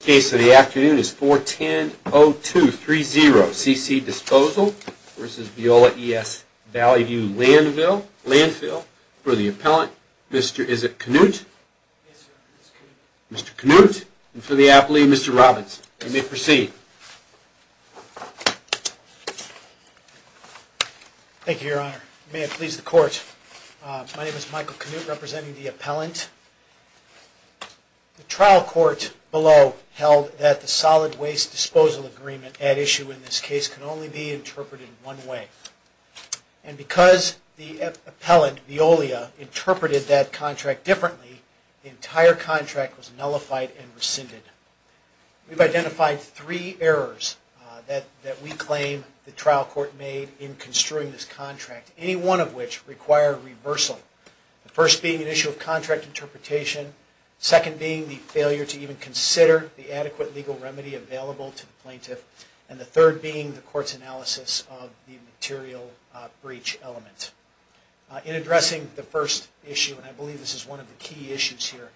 The case of the afternoon is 410-0230, CC Disposal v. Veolia ES Valley View Landfill. For the appellant, Mr. Isak Knut. Mr. Knut, and for the applee, Mr. Robbins. You may proceed. Thank you, Your Honor. May it please the Court, my name is Michael Knut, representing the appellant. The trial court below held that the Solid Waste Disposal Agreement at issue in this case can only be interpreted one way. And because the appellant, Veolia, interpreted that contract differently, the entire contract was nullified and rescinded. We've identified three errors that we claim the trial court made in construing this contract, any one of which required reversal. The first being an issue of contract interpretation. The second being the failure to even consider the adequate legal remedy available to the plaintiff. And the third being the court's analysis of the material breach element. In addressing the first issue, and I believe this is one of the key issues here,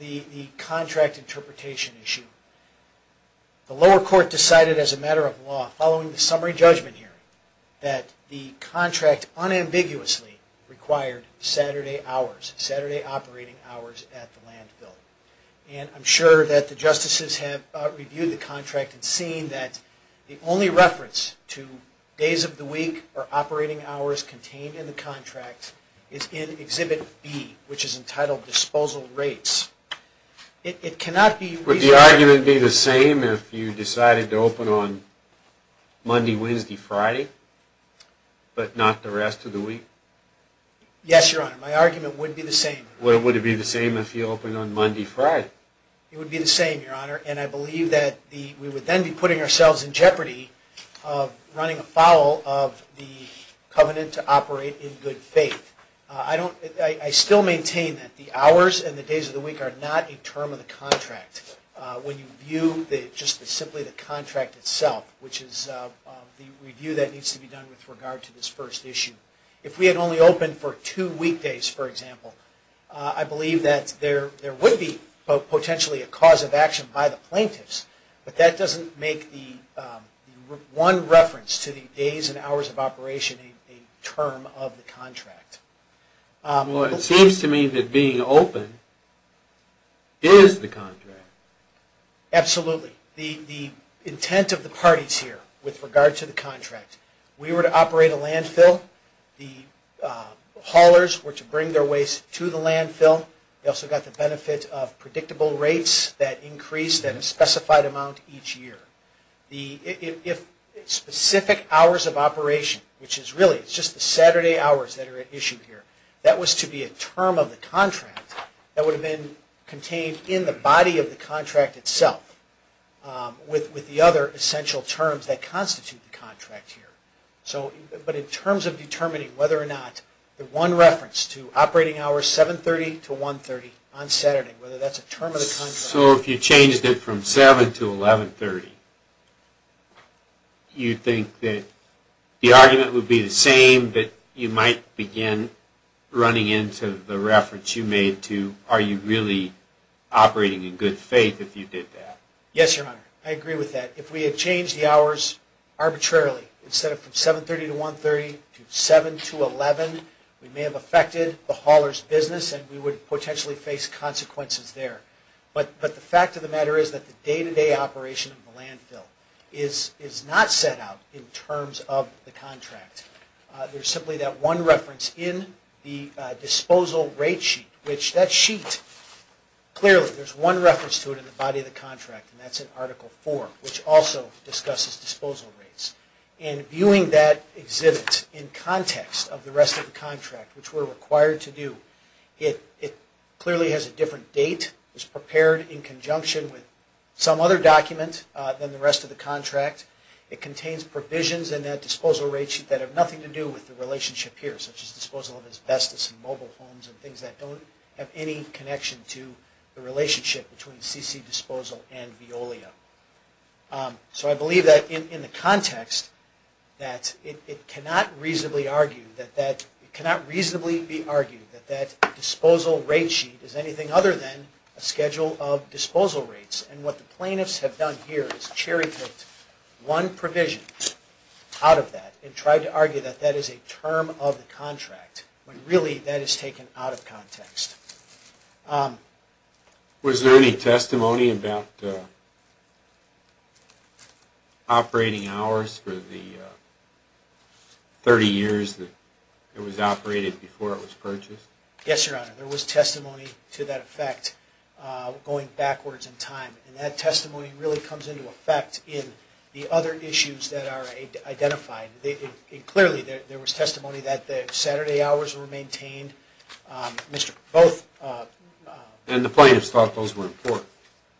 the contract interpretation issue, the lower court decided as a matter of law, following the summary judgment hearing, that the contract unambiguously required Saturday hours, Saturday operating hours at the landfill. And I'm sure that the justices have reviewed the contract and seen that the only reference to days of the week or operating hours contained in the contract is in Exhibit B, which is entitled Disposal Rates. It cannot be... Would the argument be the same if you decided to open on Monday, Wednesday, Friday, but not the rest of the week? Yes, Your Honor. My argument would be the same. Would it be the same if you opened on Monday, Friday? It would be the same, Your Honor. And I believe that we would then be putting ourselves in jeopardy of running afoul of the covenant to operate in good faith. I still maintain that the hours and the days of the week are not a term of the contract when you view just simply the contract itself, which is the review that needs to be done with regard to this first issue. If we had only opened for two weekdays, for example, I believe that there would be potentially a cause of action by the plaintiffs, but that doesn't make the one reference to the days and hours of operation a term of the contract. Well, it seems to me that being open is the contract. Absolutely. The intent of the parties here with regard to the contract, we were to operate a landfill. The haulers were to bring their waste to the landfill. They also got the benefit of predictable rates that increased at a specified amount each year. The specific hours of operation, which is really just the Saturday hours that are at issue here, that was to be a term of the contract that would have been contained in the body of the contract itself with the other essential terms that constitute the contract here. But in terms of determining whether or not the one reference to operating hours 7.30 to 1.30 on Saturday, whether that's a term of the contract... So if you changed it from 7.00 to 11.30, you think that the argument would be the same, but you might begin running into the reference you made to are you really operating in good faith if you did that? Yes, Your Honor. I agree with that. If we had changed the hours arbitrarily, instead of from 7.30 to 1.30 to 7.00 to 11.00, we may have affected the haulers' business and we would potentially face consequences there. But the fact of the matter is that the day-to-day operation of the landfill is not set out in terms of the contract. There's simply that one reference in the disposal rate sheet, which that sheet, clearly there's one reference to it in the body of the contract, and that's in Article 4, which also discusses disposal rates. And viewing that exhibit in context of the rest of the contract, which we're required to do, it clearly has a different date, it was prepared in conjunction with some other document than the rest of the contract. It contains provisions in that disposal rate sheet that have nothing to do with the relationship here, such as disposal of asbestos in mobile homes and things that don't have any connection to the relationship between CC disposal and Veolia. So I believe that in the context that it cannot reasonably be argued that that disposal rate sheet is anything other than a schedule of disposal rates. And what the plaintiffs have done here is cherry-picked one provision out of that and tried to argue that that is a term of the contract, when really that is taken out of context. Was there any testimony about operating hours for the 30 years that it was operated before it was purchased? Yes, Your Honor, there was testimony to that effect going backwards in time. And that testimony really comes into effect in the other issues that are identified. Clearly there was testimony that the Saturday hours were maintained. And the plaintiffs thought those were important?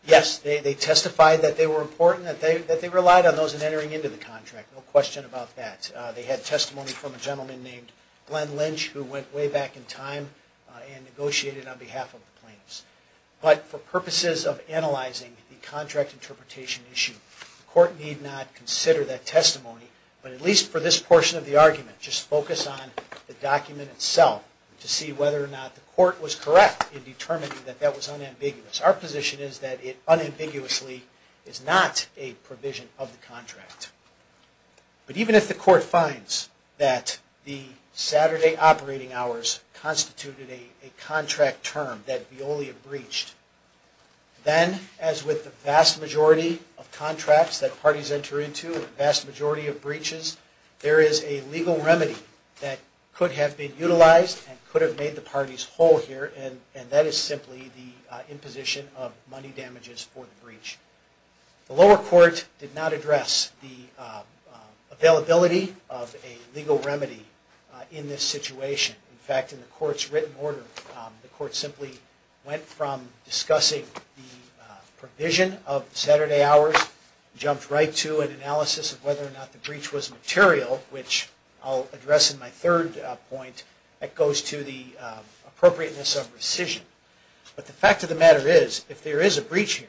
Yes, they testified that they were important, that they relied on those in entering into the contract, no question about that. And they had testimony from a gentleman named Glenn Lynch who went way back in time and negotiated on behalf of the plaintiffs. But for purposes of analyzing the contract interpretation issue, the court need not consider that testimony, but at least for this portion of the argument, just focus on the document itself to see whether or not the court was correct in determining that that was unambiguous. Our position is that it unambiguously is not a provision of the contract. But even if the court finds that the Saturday operating hours constituted a contract term that Veolia breached, then as with the vast majority of contracts that parties enter into, a vast majority of breaches, there is a legal remedy that could have been utilized and could have made the parties whole here, and that is simply the imposition of money damages for the breach. The lower court did not address the availability of a legal remedy in this situation. In fact, in the court's written order, the court simply went from discussing the provision of Saturday hours, jumped right to an analysis of whether or not the breach was material, which I'll address in my third point, that goes to the appropriateness of rescission. The court did not address the availability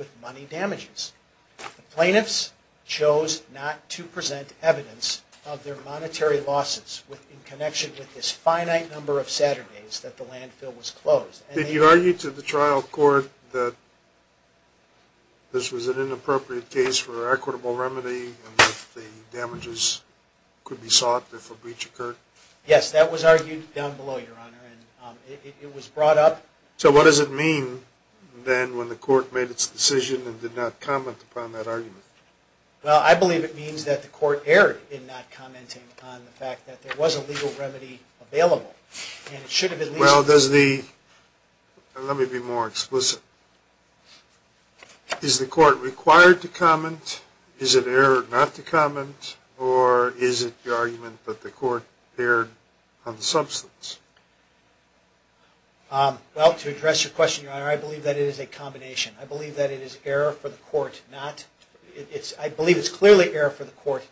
of money damages. The plaintiffs chose not to present evidence of their monetary losses in connection with this finite number of Saturdays that the landfill was closed. Did you argue to the trial court that this was an inappropriate case for an equitable remedy and that the damages could be sought if a breach occurred? Yes, that was argued down below, Your Honor, and it was brought up. So what does it mean, then, when the court made its decision and did not comment upon that argument? Well, I believe it means that the court erred in not commenting on the fact that there was a legal remedy available, and it should have at least... Let me be more explicit. Is the court required to comment, is it erred not to comment, or is it the argument that the court erred on the substance? Well, to address your question, Your Honor, I believe that it is a combination. I believe that it is clearly error for the court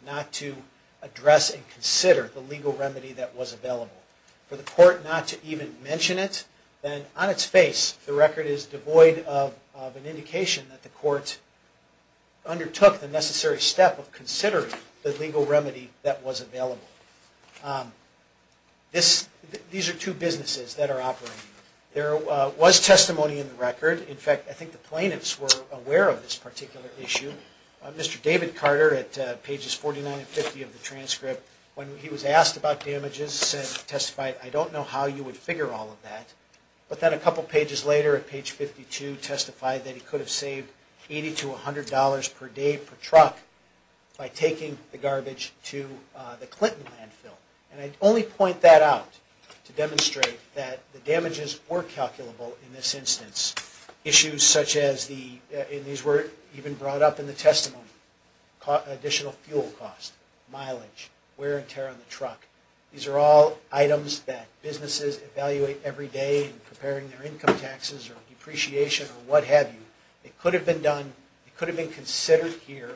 not to address and consider the legal remedy that was available. For the court not to even mention it, then, on its face, the record is devoid of an indication that the court undertook the necessary step of considering the legal remedy that was available. These are two businesses that are operating. There was testimony in the record. In fact, I think the plaintiffs were aware of this particular issue. Mr. David Carter, at pages 49 and 50 of the transcript, when he was asked about damages, testified, I don't know how you would figure all of that. But then a couple pages later, at page 52, testified that he could have saved $80 to $100 per day per truck by taking the garbage to the Clinton landfill. And I only point that out to demonstrate that the damages were calculable in this instance. Issues such as the, and these were even brought up in the testimony, additional fuel cost, mileage, wear and tear on the truck. These are all items that businesses evaluate every day in preparing their income taxes or depreciation or what have you. It could have been done, it could have been considered here.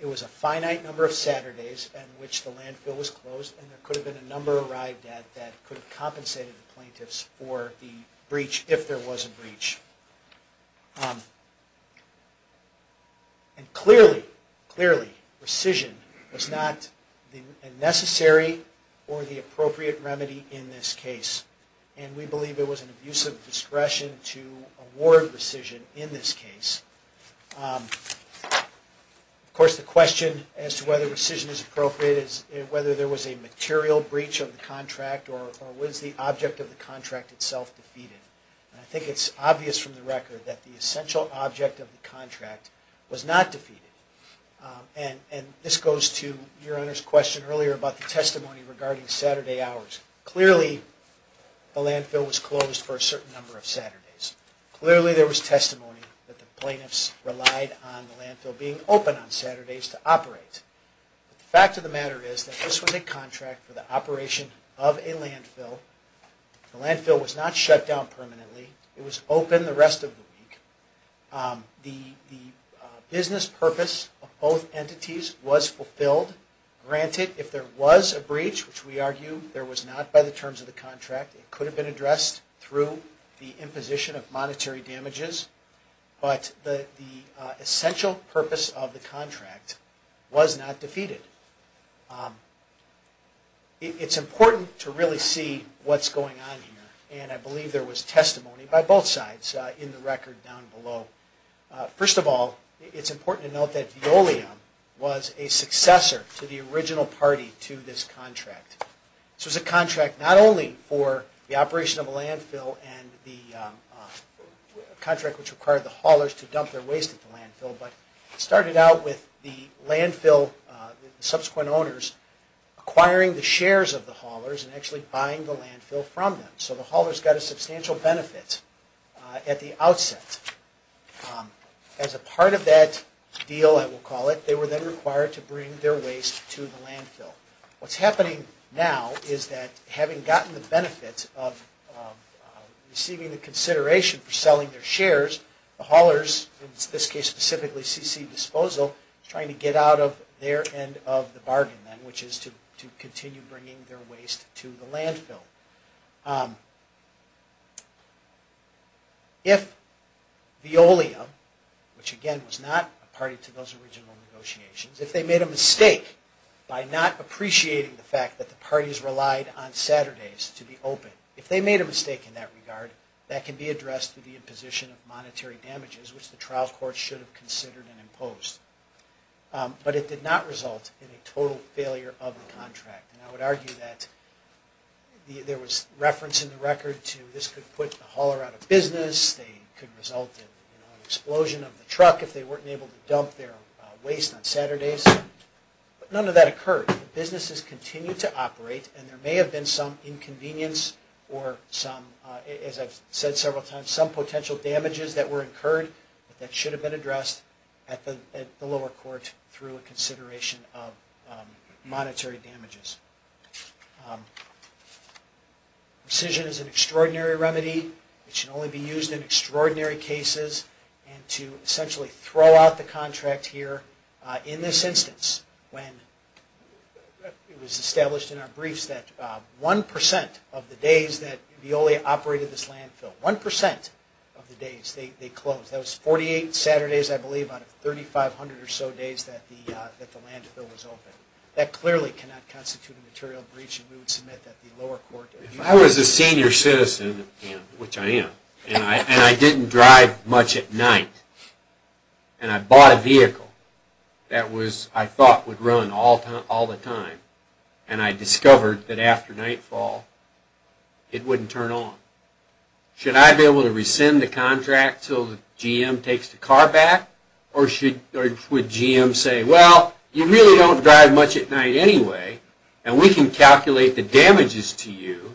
It was a finite number of Saturdays in which the landfill was closed. And there could have been a number arrived at that could have compensated the plaintiffs for the breach, if there was a breach. And clearly, clearly, rescission was not the necessary or the appropriate remedy in this case. And we believe it was an abuse of discretion to award rescission in this case. Of course, the question as to whether rescission is appropriate is whether there was a material breach of the contract or was the object of the contract itself defeated. And I think it's obvious from the record that the essential object of the contract was not defeated. And this goes to your Honor's question earlier about the testimony regarding Saturday hours. The landfill was closed for a certain number of Saturdays. Clearly, there was testimony that the plaintiffs relied on the landfill being open on Saturdays to operate. The fact of the matter is that this was a contract for the operation of a landfill. The landfill was not shut down permanently. It was open the rest of the week. The business purpose of both entities was fulfilled. Granted, if there was a breach, which we argue there was not by the terms of the contract, it could have been addressed through the imposition of monetary damages. But the essential purpose of the contract was not defeated. It's important to really see what's going on here. And I believe there was testimony by both sides in the record down below. First of all, it's important to note that Veolium was a successor to the original party to this contract. This was a contract not only for the operation of a landfill and the contract which required the haulers to dump their waste at the landfill, but it started out with the subsequent owners acquiring the shares of the haulers and actually buying the landfill from them. So the haulers got a substantial benefit at the outset. As a part of that deal, I will call it, they were then required to bring their waste to the landfill. What's happening now is that having gotten the benefit of receiving the consideration for selling their shares, the haulers, in this case specifically CC Disposal, trying to get out of their end of the bargain then, which is to continue bringing their waste to the landfill. If Veolium, which again was not a party to those original negotiations, if they made a mistake by not appreciating the fact that the parties relied on Saturdays to be open, if they made a mistake in that regard, that can be addressed through the imposition of monetary damages, which the trial court should have considered and imposed. But it did not result in a total failure of the contract. And I would argue that there was reference in the records to the fact that Veolium, this could put the hauler out of business, they could result in an explosion of the truck if they weren't able to dump their waste on Saturdays. But none of that occurred. Businesses continued to operate and there may have been some inconvenience or some, as I've said several times, some potential damages that were incurred that should have been addressed at the lower court through a consideration of monetary damages. Precision is an extraordinary remedy. It should only be used in extraordinary cases. And to essentially throw out the contract here, in this instance, when it was established in our briefs that 1% of the days that Veolia operated this landfill, 1% of the days they closed. That was 48 Saturdays, I believe, out of 3,500 or so days that the landfill was open. That clearly cannot constitute a breach of contract. If I was a senior citizen, which I am, and I didn't drive much at night, and I bought a vehicle that I thought would run all the time, and I discovered that after nightfall, it wouldn't turn on. Should I be able to rescind the contract until the GM takes the car back? Or would GM say, well, you really don't drive much at night anyway. And we can calculate the damages to you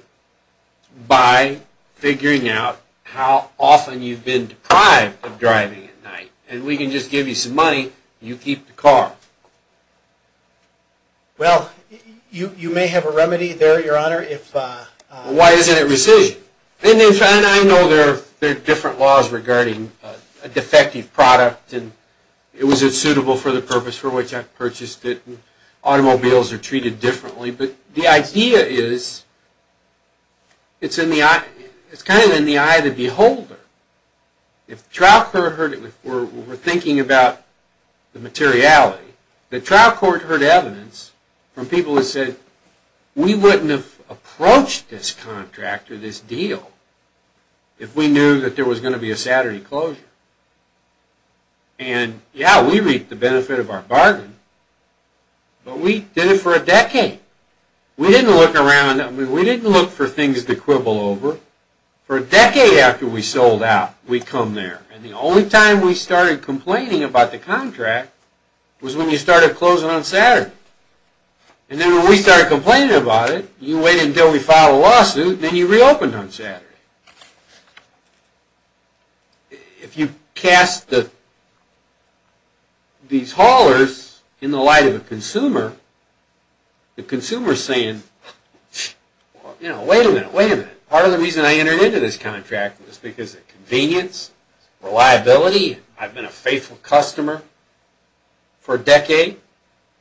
by figuring out how often you've been deprived of driving at night. And we can just give you some money, and you keep the car. Well, you may have a remedy there, Your Honor, if... Why isn't it rescission? In any event, I know there are different laws regarding a defective product, and it wasn't suitable for the purpose for which I purchased it, and automobiles are treated differently. But the idea is, it's kind of in the eye of the beholder. If trial court heard it, we're thinking about the materiality, the trial court heard evidence from people that said, we wouldn't have approached this contract or this deal if we knew that there was going to be a Saturday closure. And yeah, we reaped the benefit of our bargain, but we did it for a decade. We didn't look around, we didn't look for things to quibble over. For a decade after we sold out, we come there, and the only time we started complaining about the contract was when you started closing on Saturday. And then when we started complaining about it, you waited until we filed a lawsuit, and then you reopened on Saturday. If you cast these haulers in the light of a consumer, the consumer is going to have a hard time. And the consumer is saying, you know, wait a minute, wait a minute, part of the reason I entered into this contract was because of convenience, reliability, I've been a faithful customer for a decade,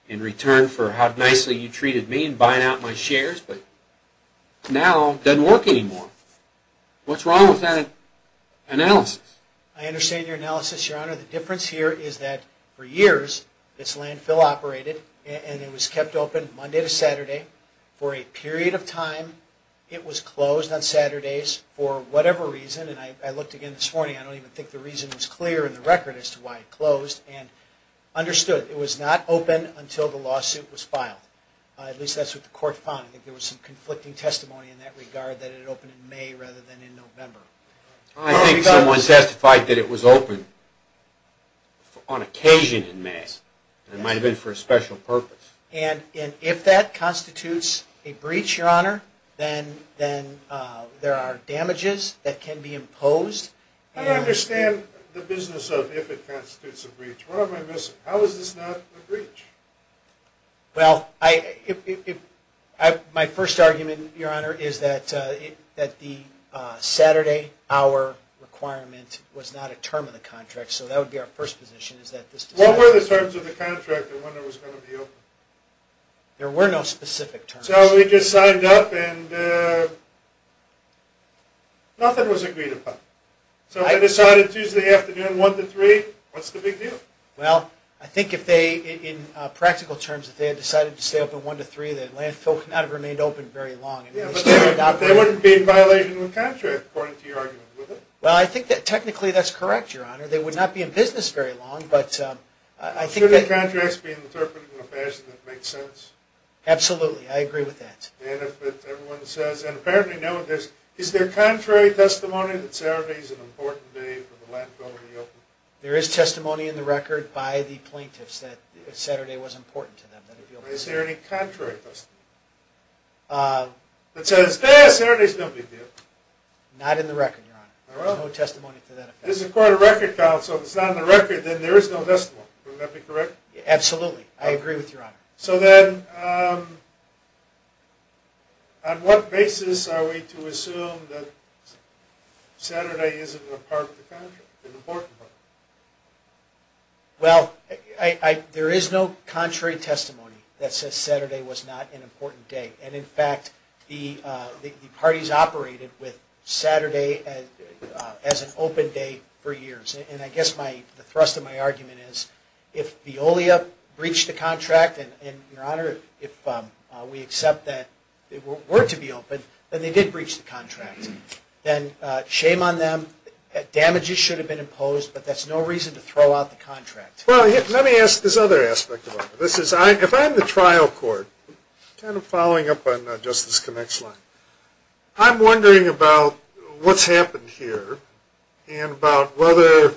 in return for how nicely you treated me in buying out my shares, but now it doesn't work anymore. What's wrong with that analysis? I understand your analysis, Your Honor. The difference here is that for years, this landfill operated, and it was kept open Monday to Saturday, for a period of time, it was closed on Saturdays, for whatever reason, and I looked again this morning, I don't even think the reason was clear in the record as to why it closed, and understood it was not open until the lawsuit was filed. At least that's what the court found. I think there was some conflicting testimony in that regard, that it opened in May rather than in November. I think someone testified that it was open on occasion in May, and it might have been for a special purpose. And if that constitutes a breach, Your Honor, then there are damages that can be imposed. I understand the business of if it constitutes a breach. What am I missing? How is this not a breach? Well, my first argument, Your Honor, is that the Saturday, Monday, Tuesday, Wednesday, Thursday, Friday, Saturday, Saturday, Sunday, Monday, Monday, Monday, Monday, Monday, Monday, Monday, Monday, Monday, Monday, Monday, Monday, Monday, Monday. And that's why our requirement was not a term of the contract, so that would be our first position. What were the terms of the contract, and when it was going to be open? There were no specific terms. So we just signed up, and nothing was agreed upon. So we decided Tuesday afternoon, 1 to 3, what's the big deal? Well, I think if they, in practical terms, if they had decided to stay open 1 to 3, the landfill could not have remained open very long. Yeah, but they wouldn't be in violation of the contract, according to your argument, would they? Well, I think that technically that's correct, Your Honor. They would not be in business very long, but I think that... Should the contracts be interpreted in a fashion that makes sense? Absolutely. I agree with that. And if everyone says, and apparently now, is there contrary testimony that Saturday is an important day for the landfill to be open? There is testimony in the record by the plaintiffs that Saturday was important to them. Is there any contrary testimony? That says, yeah, Saturday's no big deal. Not in the record, Your Honor. There's no testimony to that effect. This is a court of record, counsel. If it's not in the record, then there is no testimony. Wouldn't that be correct? Absolutely. I agree with Your Honor. So then, on what basis are we to assume that Saturday isn't an important part of the contract? Well, there is no contrary testimony that says Saturday was not an important day. And in fact, the parties operated with Saturday as an open day for years. And I guess the thrust of my argument is, if Veolia breached the contract, and Your Honor, if we accept that it were to be open, then they did breach the contract. Then, shame on them. Damages should have been imposed, but that's no reason to throw out the contract. Well, let me ask this other aspect of it. If I'm the trial court, kind of following up on Justice Connick's line, I'm wondering about what's happened here, and about whether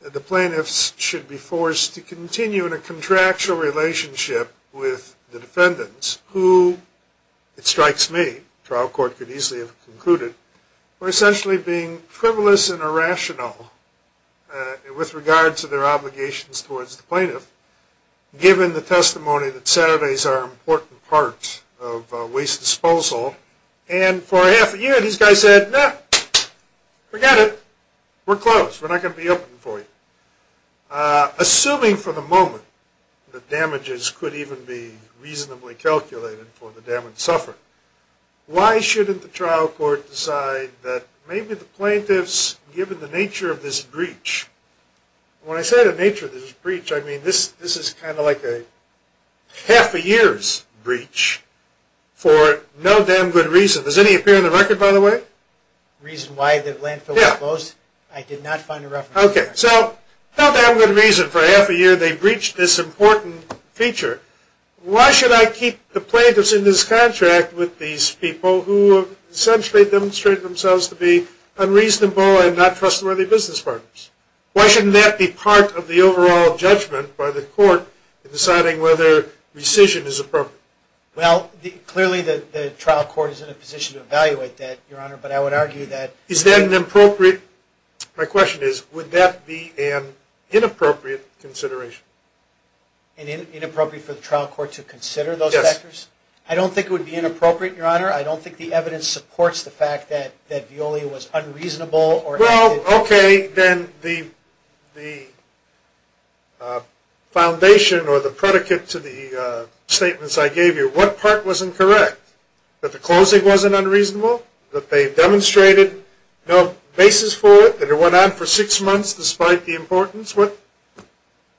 the plaintiffs should be forced to continue in a contractual relationship with the defendants, who, it strikes me, the trial court could easily have concluded, were essentially being frivolous and irrational with regards to their obligations towards the plaintiff, given the testimony that Saturdays are an important part of waste disposal. And for half a year, these guys said, no, forget it. We're closed. We're not going to be open for you. Assuming, for the moment, that damages could even be reasonably calculated for the damage suffered, why shouldn't the trial court decide that maybe the plaintiffs, given the nature of this breach, when I say the nature of this breach, I mean this is kind of like a half a year's breach, for no damn good reason. Does any appear in the record, by the way? Reason why the landfill was closed? I did not find a reference to that. Okay. So, for no damn good reason, for half a year, they breached this important feature. Why should I keep the plaintiffs in this contract with these people, who have essentially demonstrated themselves to be unreasonable and not trustworthy business partners? Why shouldn't that be part of the overall judgment by the court in deciding whether rescission is appropriate? Well, clearly the trial court is in a position to evaluate that, Your Honor, but I would argue that... My question is, would that be an inappropriate consideration? Inappropriate for the trial court to consider those factors? Yes. I don't think it would be inappropriate, Your Honor. I don't think the evidence supports the fact that Veolia was unreasonable or... Well, okay, then the foundation or the predicate to the statements I gave you, what part wasn't correct? That the closing wasn't unreasonable? That they demonstrated no basis for it? That it went on for six months despite the importance? What?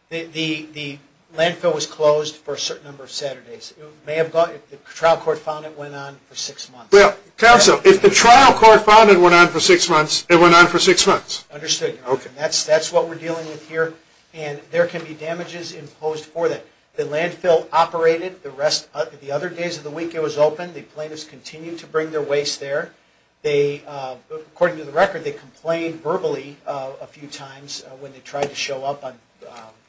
The landfill was closed for a certain number of Saturdays. It may have gone... The trial court found it went on for six months. Well, counsel, if the trial court found it went on for six months, it went on for six months. Understood, Your Honor. That's what we're dealing with here, and there can be damages imposed for that. The landfill operated. The other days of the week it was open. The plaintiffs continued to bring their waste there. According to the record, they complained verbally a few times when they tried to show up on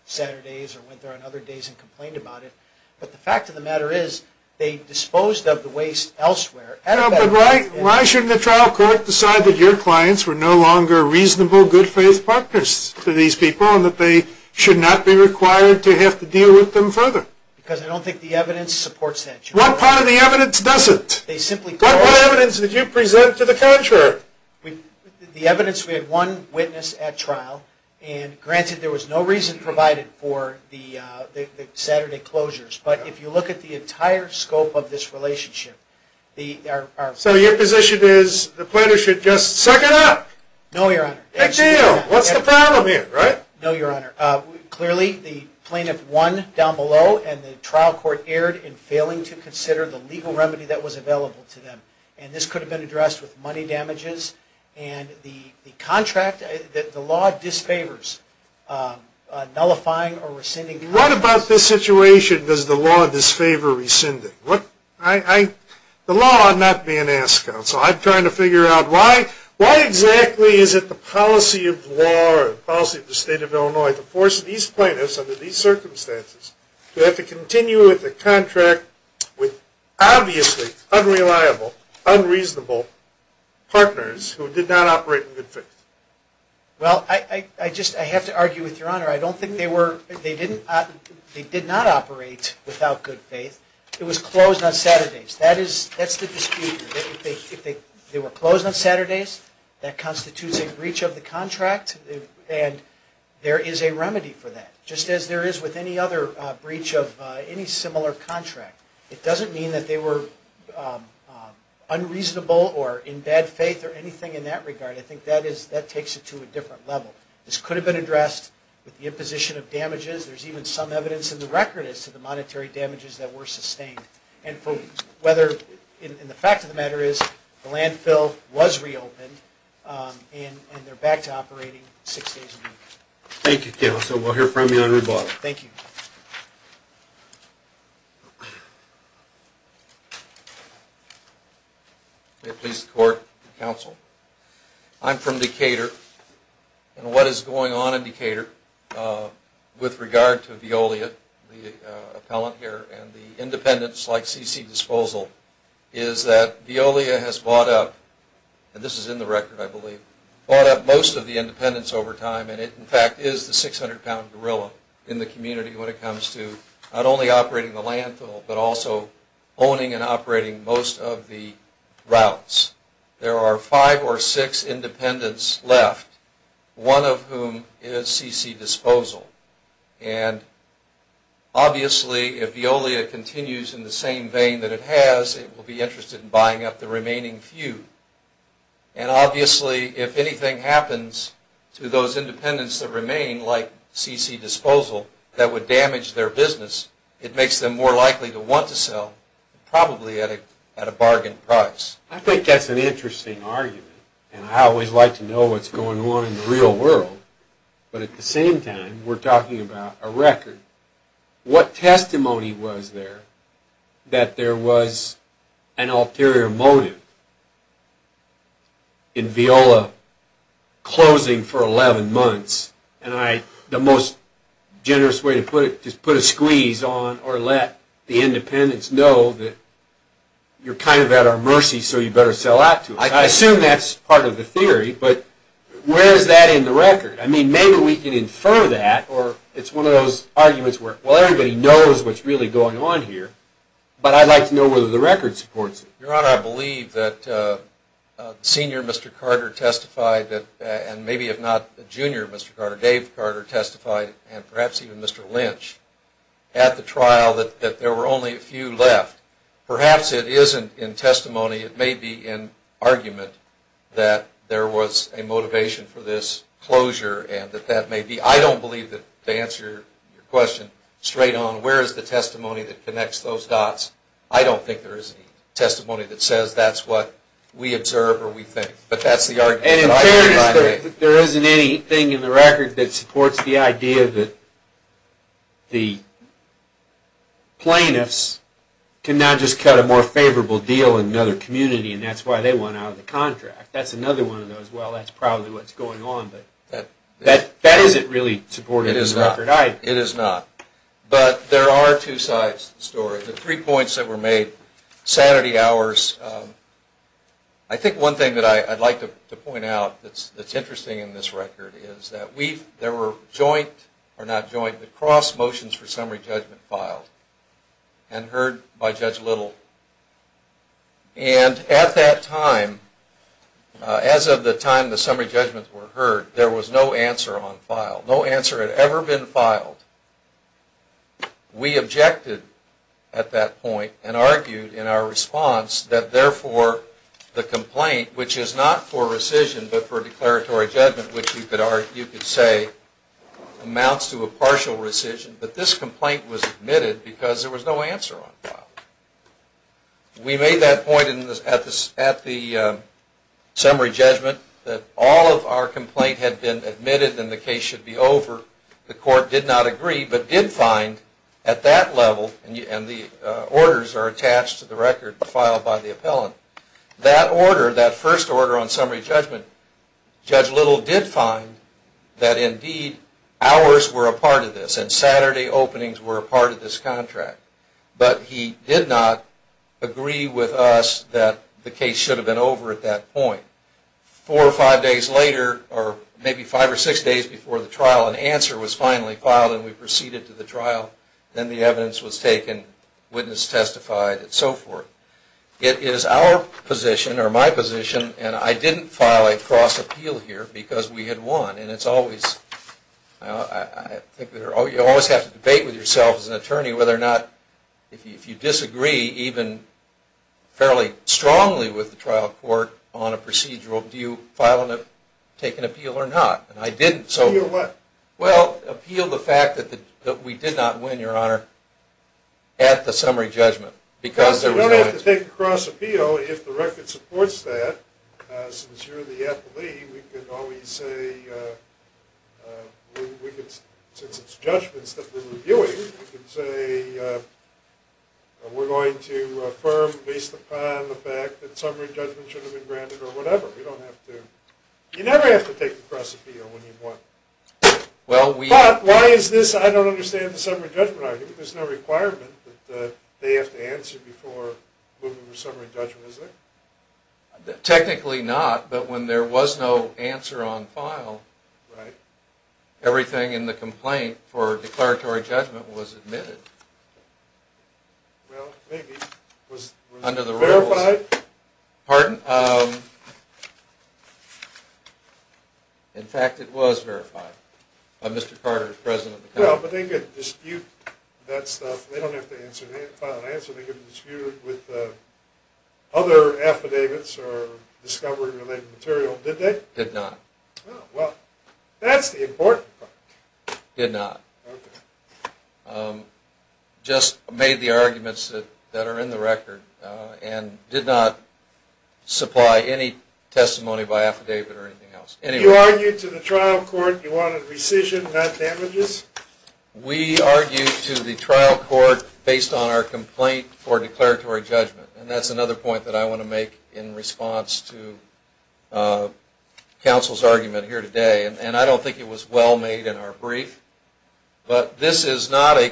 Saturdays or went there on other days and complained about it. But the fact of the matter is, they disposed of the waste elsewhere. But why shouldn't the trial court decide that your clients were no longer reasonable, good-faith partners to these people and that they should not be required to have to deal with them further? Because I don't think the evidence supports that. What part of the evidence doesn't? What evidence did you present to the contrary? The evidence we had one witness at trial, and granted there was no reason provided for the Saturday closures, but if you look at the entire scope of this relationship... So your position is the plaintiff should just suck it up? No, Your Honor. What's the problem here, right? No, Your Honor. Clearly, the plaintiff won down below, and the trial court erred in failing to consider the legal remedy that was available to them. And this could have been addressed with money damages. And the contract, the law disfavors nullifying or rescinding... What about this situation does the law disfavor rescinding? The law, I'm not being asked. So I'm trying to figure out why exactly is it the policy of law, the policy of the state of Illinois to force these plaintiffs under these circumstances to have to continue with a contract with obviously unreliable, unreasonable partners who did not operate in good faith? Well, I have to argue with Your Honor. I don't think they did not operate without good faith. It was closed on Saturdays. That's the dispute. If they were closed on Saturdays, that constitutes a breach of the contract, and there is a remedy for that. Just as there is with any other breach of any similar contract. It doesn't mean that they were unreasonable or in bad faith or anything in that regard. I think that takes it to a different level. This could have been addressed with the imposition of damages. There's even some evidence in the record as to the monetary damages that were sustained. And the fact of the matter is the landfill was reopened, and they're back to operating six days a week. Thank you, counsel. We'll hear from you on rebuttal. Thank you. May it please the Court and counsel. I'm from Decatur. And what is going on in Decatur with regard to Veolia, the appellant here, and the independents like C.C. Disposal is that Veolia has bought up, and this is in the record I believe, bought up most of the independents over time, and it in fact is the 600-pound gorilla in the community when it comes to not only operating the landfill but also owning and operating most of the routes. There are five or six independents left, one of whom is C.C. Disposal. And obviously if Veolia continues in the same vein that it has, it will be interested in buying up the remaining few. And obviously if anything happens to those independents that remain, like C.C. Disposal, that would damage their business, it makes them more likely to want to sell, probably at a bargain price. I think that's an interesting argument. And I always like to know what's going on in the real world. But at the same time, we're talking about a record. What testimony was there that there was an ulterior motive in Veolia closing for 11 months? And the most generous way to put it is put a squeeze on or let the independents know that you're kind of at our mercy so you better sell out to us. I assume that's part of the theory, but where is that in the record? I mean, maybe we can infer that, or it's one of those arguments where, well, everybody knows what's really going on here, but I'd like to know whether the record supports it. Your Honor, I believe that Senior Mr. Carter testified, and maybe if not Junior Mr. Carter, Dave Carter testified, and perhaps even Mr. Lynch, at the trial that there were only a few left. Perhaps it isn't in testimony. It may be in argument that there was a motivation for this closure and that that may be. I don't believe that to answer your question straight on, where is the testimony that connects those dots, I don't think there is any testimony that says that's what we observe or we think. And in fairness, there isn't anything in the record that supports the idea that the plaintiffs can now just cut a more favorable deal in another community, and that's why they went out of the contract. That's another one of those, well, that's probably what's going on, but that isn't really supported in the record either. It is not. But there are two sides to the story. The three points that were made, sanity hours, I think one thing that I'd like to point out that's interesting in this record is that there were joint, or not joint, but cross motions for summary judgment filed and heard by Judge Little. And at that time, as of the time the summary judgments were heard, there was no answer on file. No answer had ever been filed. We objected at that point and argued in our response that therefore the complaint, which is not for rescission but for declaratory judgment, which you could say amounts to a partial rescission, that this complaint was admitted because there was no answer on file. We made that point at the summary judgment that all of our complaint had been admitted and the case should be over. The court did not agree but did find at that level, and the orders are attached to the record filed by the appellant, that order, that first order on summary judgment, Judge Little did find that indeed hours were a part of this and Saturday openings were a part of this contract. But he did not agree with us that the case should have been over at that point. Four or five days later, or maybe five or six days before the trial, an answer was finally filed and we proceeded to the trial. Then the evidence was taken, witness testified, and so forth. It is our position, or my position, and I didn't file a cross-appeal here because we had won, and it's always, you always have to debate with yourself as an attorney whether or not, if you disagree even fairly strongly with the trial court on a procedural, do you file and take an appeal or not? And I didn't. Appeal what? Well, appeal the fact that we did not win, Your Honor, at the summary judgment. Because there was no answer. You don't have to take a cross-appeal if the record supports that. Since you're the athlete, we can always say, since it's judgments that we're reviewing, we can say we're going to affirm based upon the fact that summary judgment should have been granted or whatever. You don't have to. You never have to take a cross-appeal when you've won. But why is this I don't understand the summary judgment argument? There's no requirement that they have to answer before moving to summary judgment, is there? Technically not, but when there was no answer on file, everything in the complaint for declaratory judgment was admitted. Well, maybe. Under the rules. Was it verified? Pardon? In fact, it was verified by Mr. Carter, the president of the company. Well, but they could dispute that stuff. They don't have to file an answer. They could dispute it with other affidavits or discovery-related material, did they? Did not. Well, that's the important part. Did not. Okay. Just made the arguments that are in the record and did not supply any testimony by affidavit or anything else. You argued to the trial court you wanted rescission, not damages? We argued to the trial court based on our complaint for declaratory judgment, and that's another point that I want to make in response to counsel's argument here today. And I don't think it was well made in our brief, but this is not a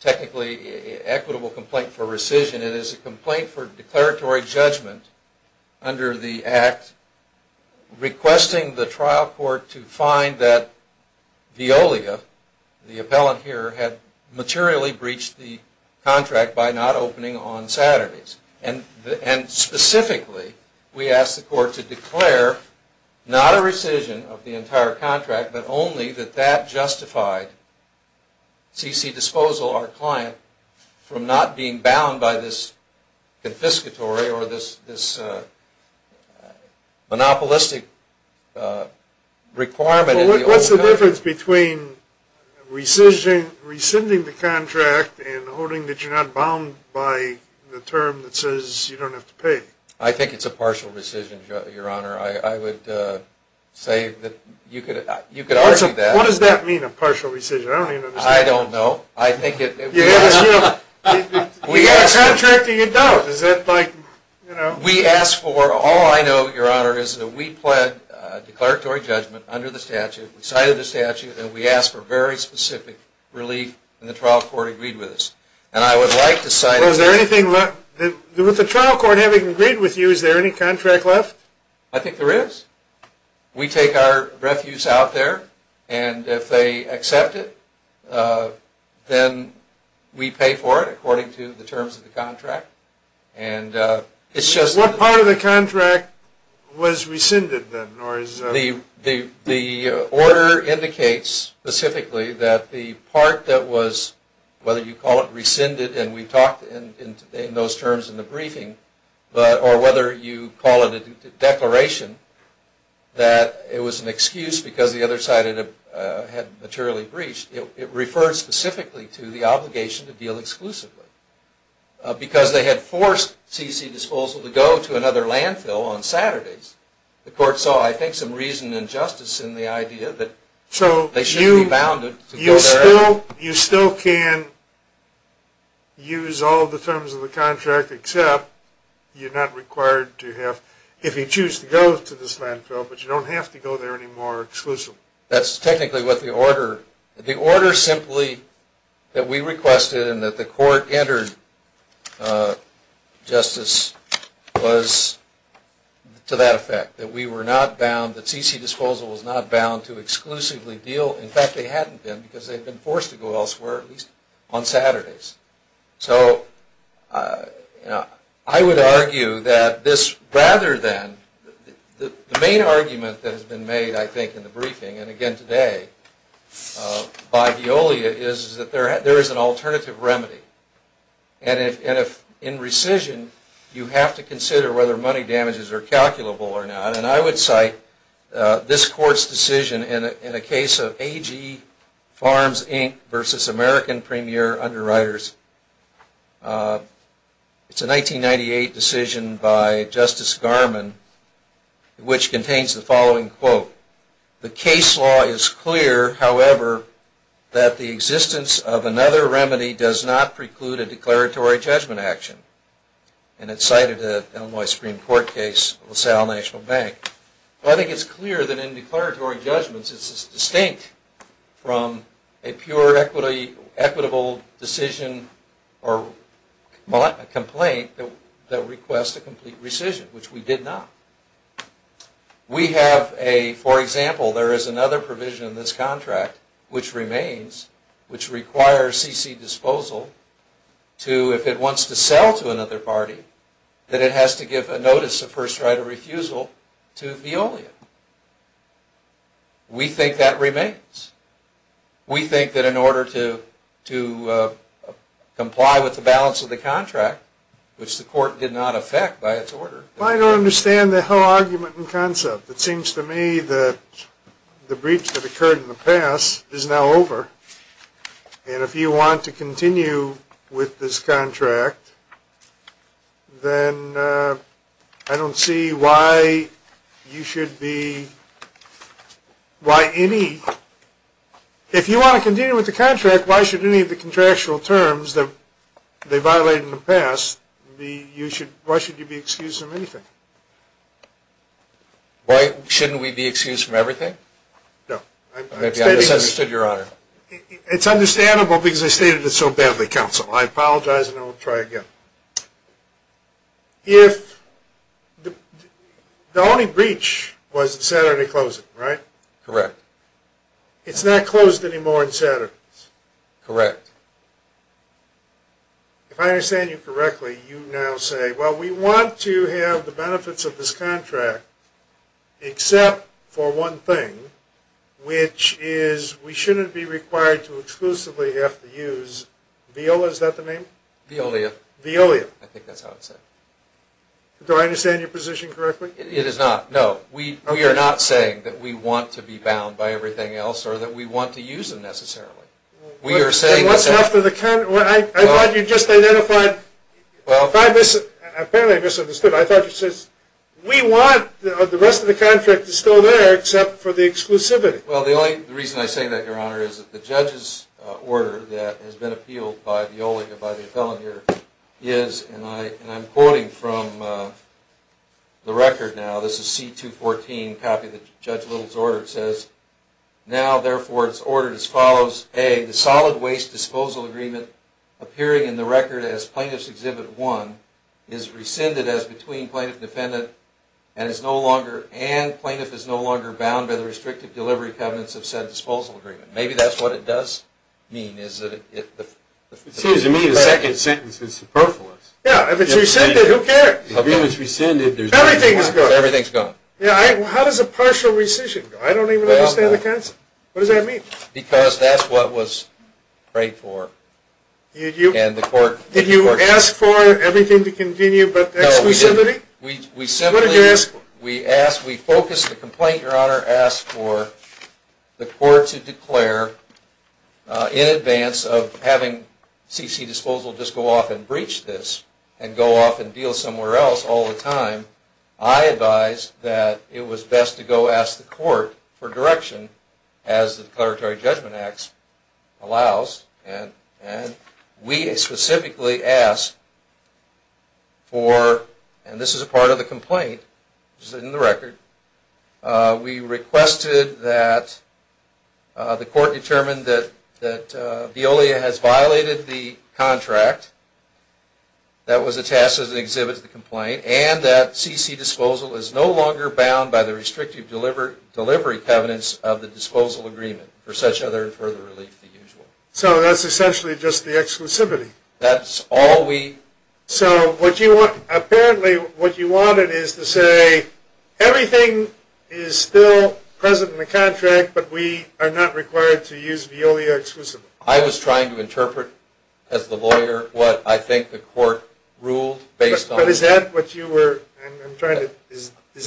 technically equitable complaint for rescission. It is a complaint for declaratory judgment under the Act requesting the trial court to find that Veolia, the appellant here, had materially breached the contract by not opening on Saturdays. And specifically, we asked the court to declare not a rescission of the entire contract, but only that that justified CC disposal, our client, from not being bound by this confiscatory or this monopolistic requirement. What's the difference between rescinding the contract and holding that you're not bound by the term that says you don't have to pay? I think it's a partial rescission, Your Honor. I would say that you could argue that. What does that mean, a partial rescission? I don't even understand. I don't know. You're contracting a doubt. All I know, Your Honor, is that we pled declaratory judgment under the statute, we cited the statute, and we asked for very specific relief, and the trial court agreed with us. With the trial court having agreed with you, is there any contract left? I think there is. We take our refuse out there, and if they accept it, then we pay for it according to the terms of the contract. What part of the contract was rescinded then? The order indicates specifically that the part that was, whether you call it rescinded, or whether you call it a declaration that it was an excuse because the other side had materially breached, it refers specifically to the obligation to deal exclusively. Because they had forced C.C. Disposal to go to another landfill on Saturdays, the court saw, I think, some reason and justice in the idea that they should be bounded. You still can use all the terms of the contract, except you're not required to have, if you choose to go to this landfill, but you don't have to go there anymore exclusively. That's technically what the order, the order simply that we requested and that the court entered, Justice, was to that effect, that we were not bound, that C.C. Disposal was not bound to exclusively deal, in fact, they hadn't been because they had been forced to go elsewhere, at least on Saturdays. So, I would argue that this, rather than, the main argument that has been made, I think, in the briefing, and again today, by Veolia is that there is an alternative remedy. And if, in rescission, you have to consider whether money damages are calculable or not, and I would cite this court's decision in a case of A.G. Farms, Inc. versus American Premier Underwriters. It's a 1998 decision by Justice Garmon, which contains the following quote, the case law is clear, however, that the existence of another remedy does not preclude a declaratory judgment action. And it's cited in the Illinois Supreme Court case of LaSalle National Bank. I think it's clear that in declaratory judgments, it's distinct from a pure equitable decision or complaint that requests a complete rescission, which we did not. We have a, for example, there is another provision in this contract, which remains, which requires CC disposal to, if it wants to sell to another party, that it has to give a notice of first right of refusal to Veolia. We think that remains. We think that in order to comply with the balance of the contract, which the court did not affect by its order. I don't understand the whole argument in concept. It seems to me that the breach that occurred in the past is now over, and if you want to continue with this contract, then I don't see why you should be, why any, if you want to continue with the contract, why should any of the contractual terms that they violated in the past be, why should you be excused from anything? Why shouldn't we be excused from everything? No. Maybe I misunderstood, Your Honor. It's understandable because I stated it so badly, Counsel. I apologize and I will try again. If the only breach was the Saturday closing, right? Correct. It's not closed anymore on Saturdays. Correct. If I understand you correctly, you now say, well, we want to have the benefits of this contract except for one thing, which is we shouldn't be required to exclusively have to use Veolia. Is that the name? Veolia. Veolia. I think that's how it's said. Do I understand your position correctly? It is not. No. We are not saying that we want to be bound by everything else or that we want to use them necessarily. I thought you just identified, apparently I misunderstood, I thought you said we want the rest of the contract to still be there except for the exclusivity. Well, the only reason I say that, Your Honor, is that the judge's order that has been appealed by Veolia, by the appellant here, is, and I'm quoting from the record now, where it says, now therefore it's ordered as follows, A, the solid waste disposal agreement appearing in the record as Plaintiff's Exhibit 1 is rescinded as between plaintiff and defendant and is no longer bound by the restrictive delivery covenants of said disposal agreement. Maybe that's what it does mean. It seems to me the second sentence is superfluous. Yeah, if it's rescinded, who cares? Everything's gone. Everything's gone. How does a partial rescission go? I don't even understand the concept. What does that mean? Because that's what was prayed for. Did you ask for everything to continue but exclusivity? No, we simply, we focused the complaint, Your Honor, asked for the court to declare in advance of having CC Disposal just go off and breach this and go off and deal somewhere else all the time, I advised that it was best to go ask the court for direction as the Declaratory Judgment Acts allows, and we specifically asked for, and this is a part of the complaint, which is in the record, we requested that the court determine that Veolia has violated the contract that was attached as an exhibit to the complaint and that CC Disposal is no longer bound by the restrictive delivery covenants of the disposal agreement for such other and further relief than usual. So that's essentially just the exclusivity. That's all we. So what you want, apparently what you wanted is to say everything is still present in the contract, but we are not required to use Veolia exclusively. I was trying to interpret as the lawyer what I think the court ruled based on. But is that what you were, I'm trying to.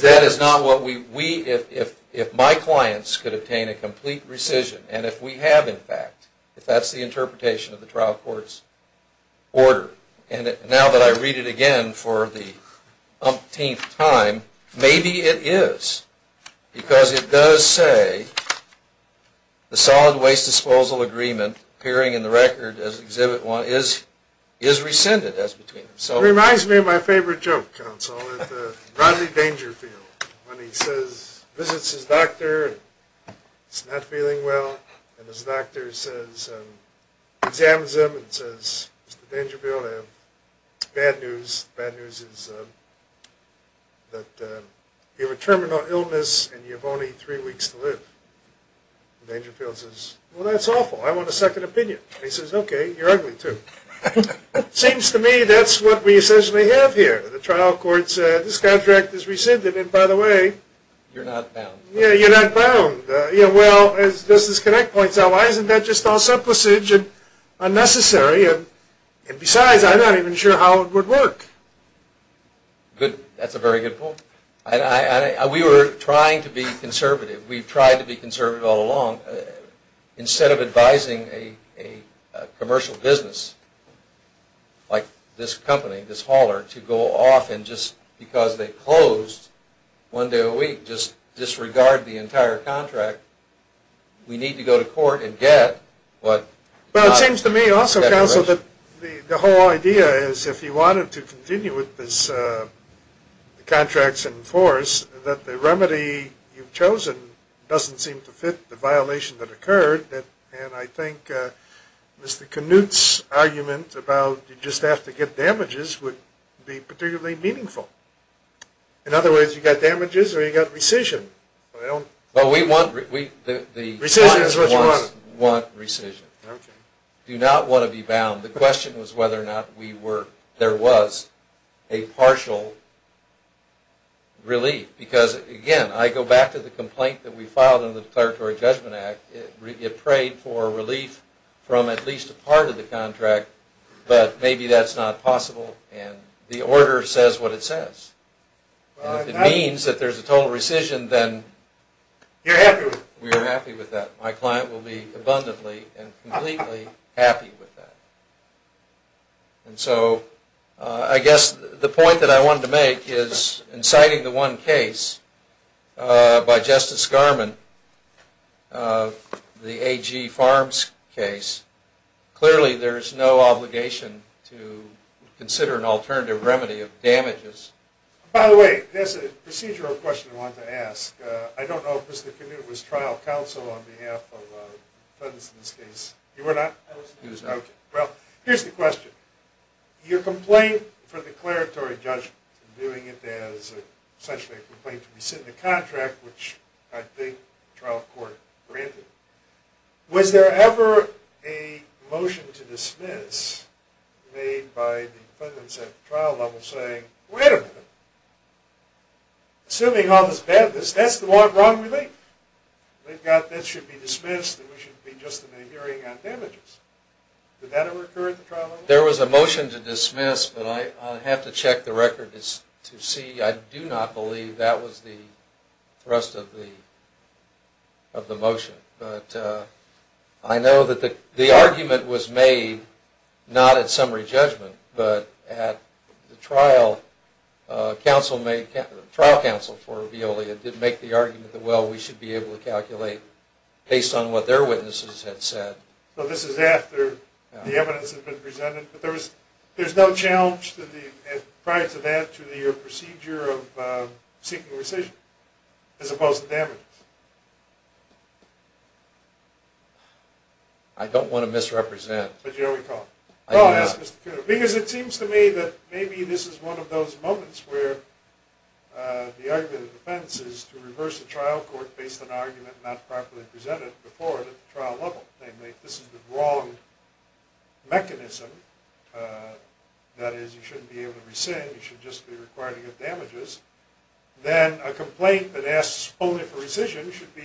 That is not what we, if my clients could obtain a complete rescission and if we have in fact, if that's the interpretation of the trial court's order, and now that I read it again for the umpteenth time, maybe it is because it does say the solid waste disposal agreement appearing in the record as exhibit one is rescinded as between itself. It reminds me of my favorite joke, counsel, at the Rodney Dangerfield when he says, visits his doctor, and he's not feeling well, and his doctor says, examines him and says, Mr. Dangerfield, bad news, bad news is that you have a terminal illness and you have only three weeks to live. And Dangerfield says, well that's awful, I want a second opinion. He says, okay, you're ugly too. Seems to me that's what we essentially have here. The trial court said, this contract is rescinded, and by the way, you're not bound. Yeah, you're not bound. Yeah, well, as Justice Connick points out, why isn't that just all simplicage and unnecessary? And besides, I'm not even sure how it would work. That's a very good point. We were trying to be conservative. We've tried to be conservative all along. Instead of advising a commercial business like this company, this hauler, to go off and just because they closed one day a week, just disregard the entire contract, we need to go to court and get what Well, it seems to me also, Counsel, that the whole idea is if you wanted to continue with this contracts in force, that the remedy you've chosen doesn't seem to fit the violation that occurred, and I think Mr. Knuth's argument about you just have to get damages would be particularly meaningful. In other words, you've got damages or you've got rescission. Well, we want rescission. We do not want to be bound. The question was whether or not there was a partial relief, because again, I go back to the complaint that we filed in the Declaratory Judgment Act. It prayed for relief from at least a part of the contract, but maybe that's not possible, and the order says what it says. If it means that there's a total rescission, then we're happy with that. My client will be abundantly and completely happy with that. And so I guess the point that I wanted to make is in citing the one case by Justice Garmon, the AG Farms case, clearly there's no obligation to consider an alternative remedy of damages. By the way, there's a procedural question I wanted to ask. I don't know if Mr. Knuth was trial counsel on behalf of Fenton's case. He was not. Well, here's the question. Your complaint for declaratory judgment, doing it as essentially a complaint to be sent in a contract, which I think trial court granted, was there ever a motion to dismiss made by the defendants at the trial level saying, wait a minute, assuming all this badness, that's the one wrong relief. That should be dismissed and we should be just in the hearing on damages. Did that ever occur at the trial level? There was a motion to dismiss, but I have to check the record to see. I do not believe that was the thrust of the motion. But I know that the argument was made not at summary judgment, but at the trial counsel for Veolia did make the argument that, well, we should be able to calculate based on what their witnesses had said. So this is after the evidence had been presented. But there's no challenge prior to that to the procedure of seeking rescission as opposed to damages. I don't want to misrepresent. But you know we can't. Because it seems to me that maybe this is one of those moments where the argument of defense is to reverse the trial court based on an argument not properly presented before it at the trial level. This is the wrong mechanism. That is, you shouldn't be able to rescind. You should just be required to get damages. Then a complaint that asks only for rescission should be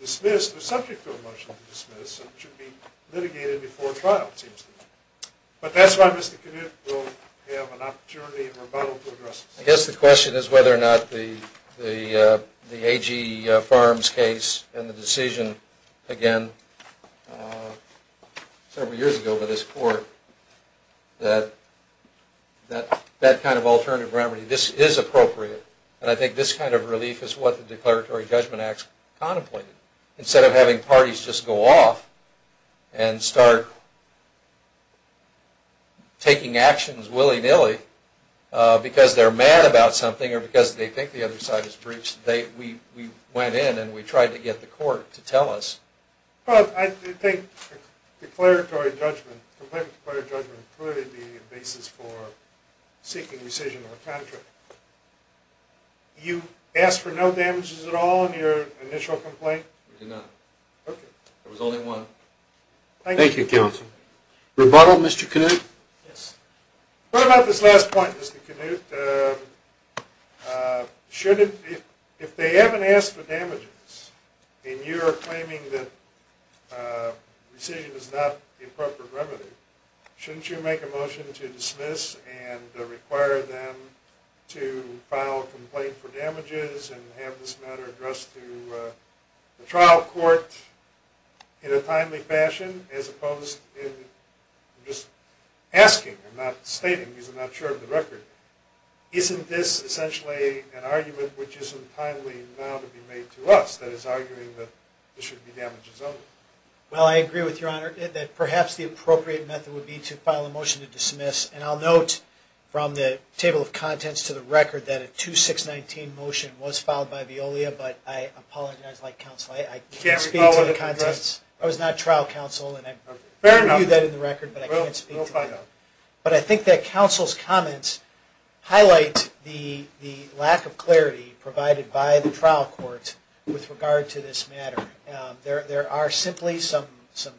dismissed or subject to a motion to dismiss and should be litigated before trial, it seems to me. But that's why Mr. Knuth will have an opportunity in rebuttal to address this. I guess the question is whether or not the AG Farms case and the decision, again, several years ago by this court, that that kind of alternative remedy, this is appropriate. And I think this kind of relief is what the Declaratory Judgment Act contemplated. Instead of having parties just go off and start taking actions willy-nilly because they're mad about something or because they think the other side is brief, we went in and we tried to get the court to tell us. Well, I think a complaint with declaratory judgment could clearly be a basis for seeking rescission or a contract. You asked for no damages at all in your initial complaint? We did not. Okay. There was only one. Thank you. Thank you, counsel. Rebuttal, Mr. Knuth? Yes. What about this last point, Mr. Knuth? If they haven't asked for damages and you are claiming that rescission is not the appropriate remedy, shouldn't you make a motion to dismiss and require them to file a complaint for damages and have this matter addressed to the trial court in a timely fashion as opposed to just asking and not stating because I'm not sure of the record? Isn't this essentially an argument which isn't timely now to be made to us, that is arguing that there should be damages only? Well, I agree with Your Honor that perhaps the appropriate method would be to file a motion to dismiss, and I'll note from the table of contents to the record that a 2-6-19 motion was filed by Veolia, but I apologize, like counsel, I can't speak to the contents. I was not trial counsel and I reviewed that in the record, but I can't speak to that. Fair enough. We'll find out. But I think that counsel's comments highlight the lack of clarity provided by the trial court with regard to this matter. There are simply some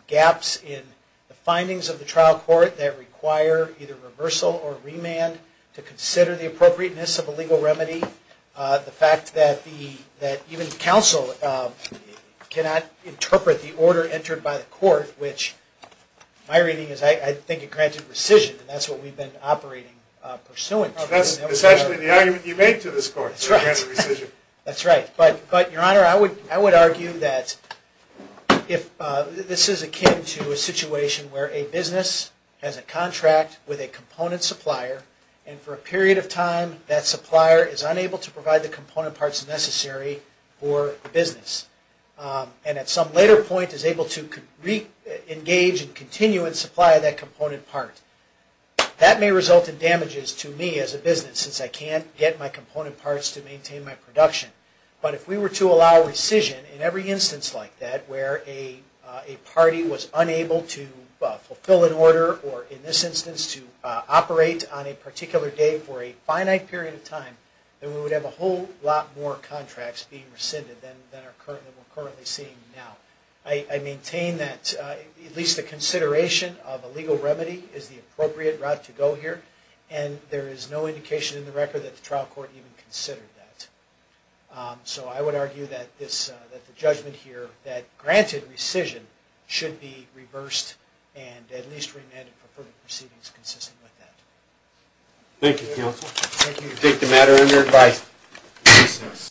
gaps in the findings of the trial court that require either reversal or remand to consider the appropriateness of a legal remedy. The fact that even counsel cannot interpret the order entered by the court, which my reading is I think it granted rescission, and that's what we've been operating pursuant to. That's essentially the argument you made to this court. That's right. But, Your Honor, I would argue that this is akin to a situation where a business has a contract with a component supplier and for a period of time that supplier is unable to provide the component parts necessary for the business and at some later point is able to re-engage and continue and supply that component part. That may result in damages to me as a business since I can't get my component parts to maintain my production. But if we were to allow rescission in every instance like that where a party was unable to fulfill an order or in this instance to operate on a particular day for a finite period of time, then we would have a whole lot more contracts being rescinded than we're currently seeing now. I maintain that at least the consideration of a legal remedy is the appropriate route to go here, and there is no indication in the record that the trial court even considered that. So I would argue that the judgment here that granted rescission should be reversed and at least remanded for further proceedings consistent with that. Thank you, counsel. Thank you. I take the matter under advice.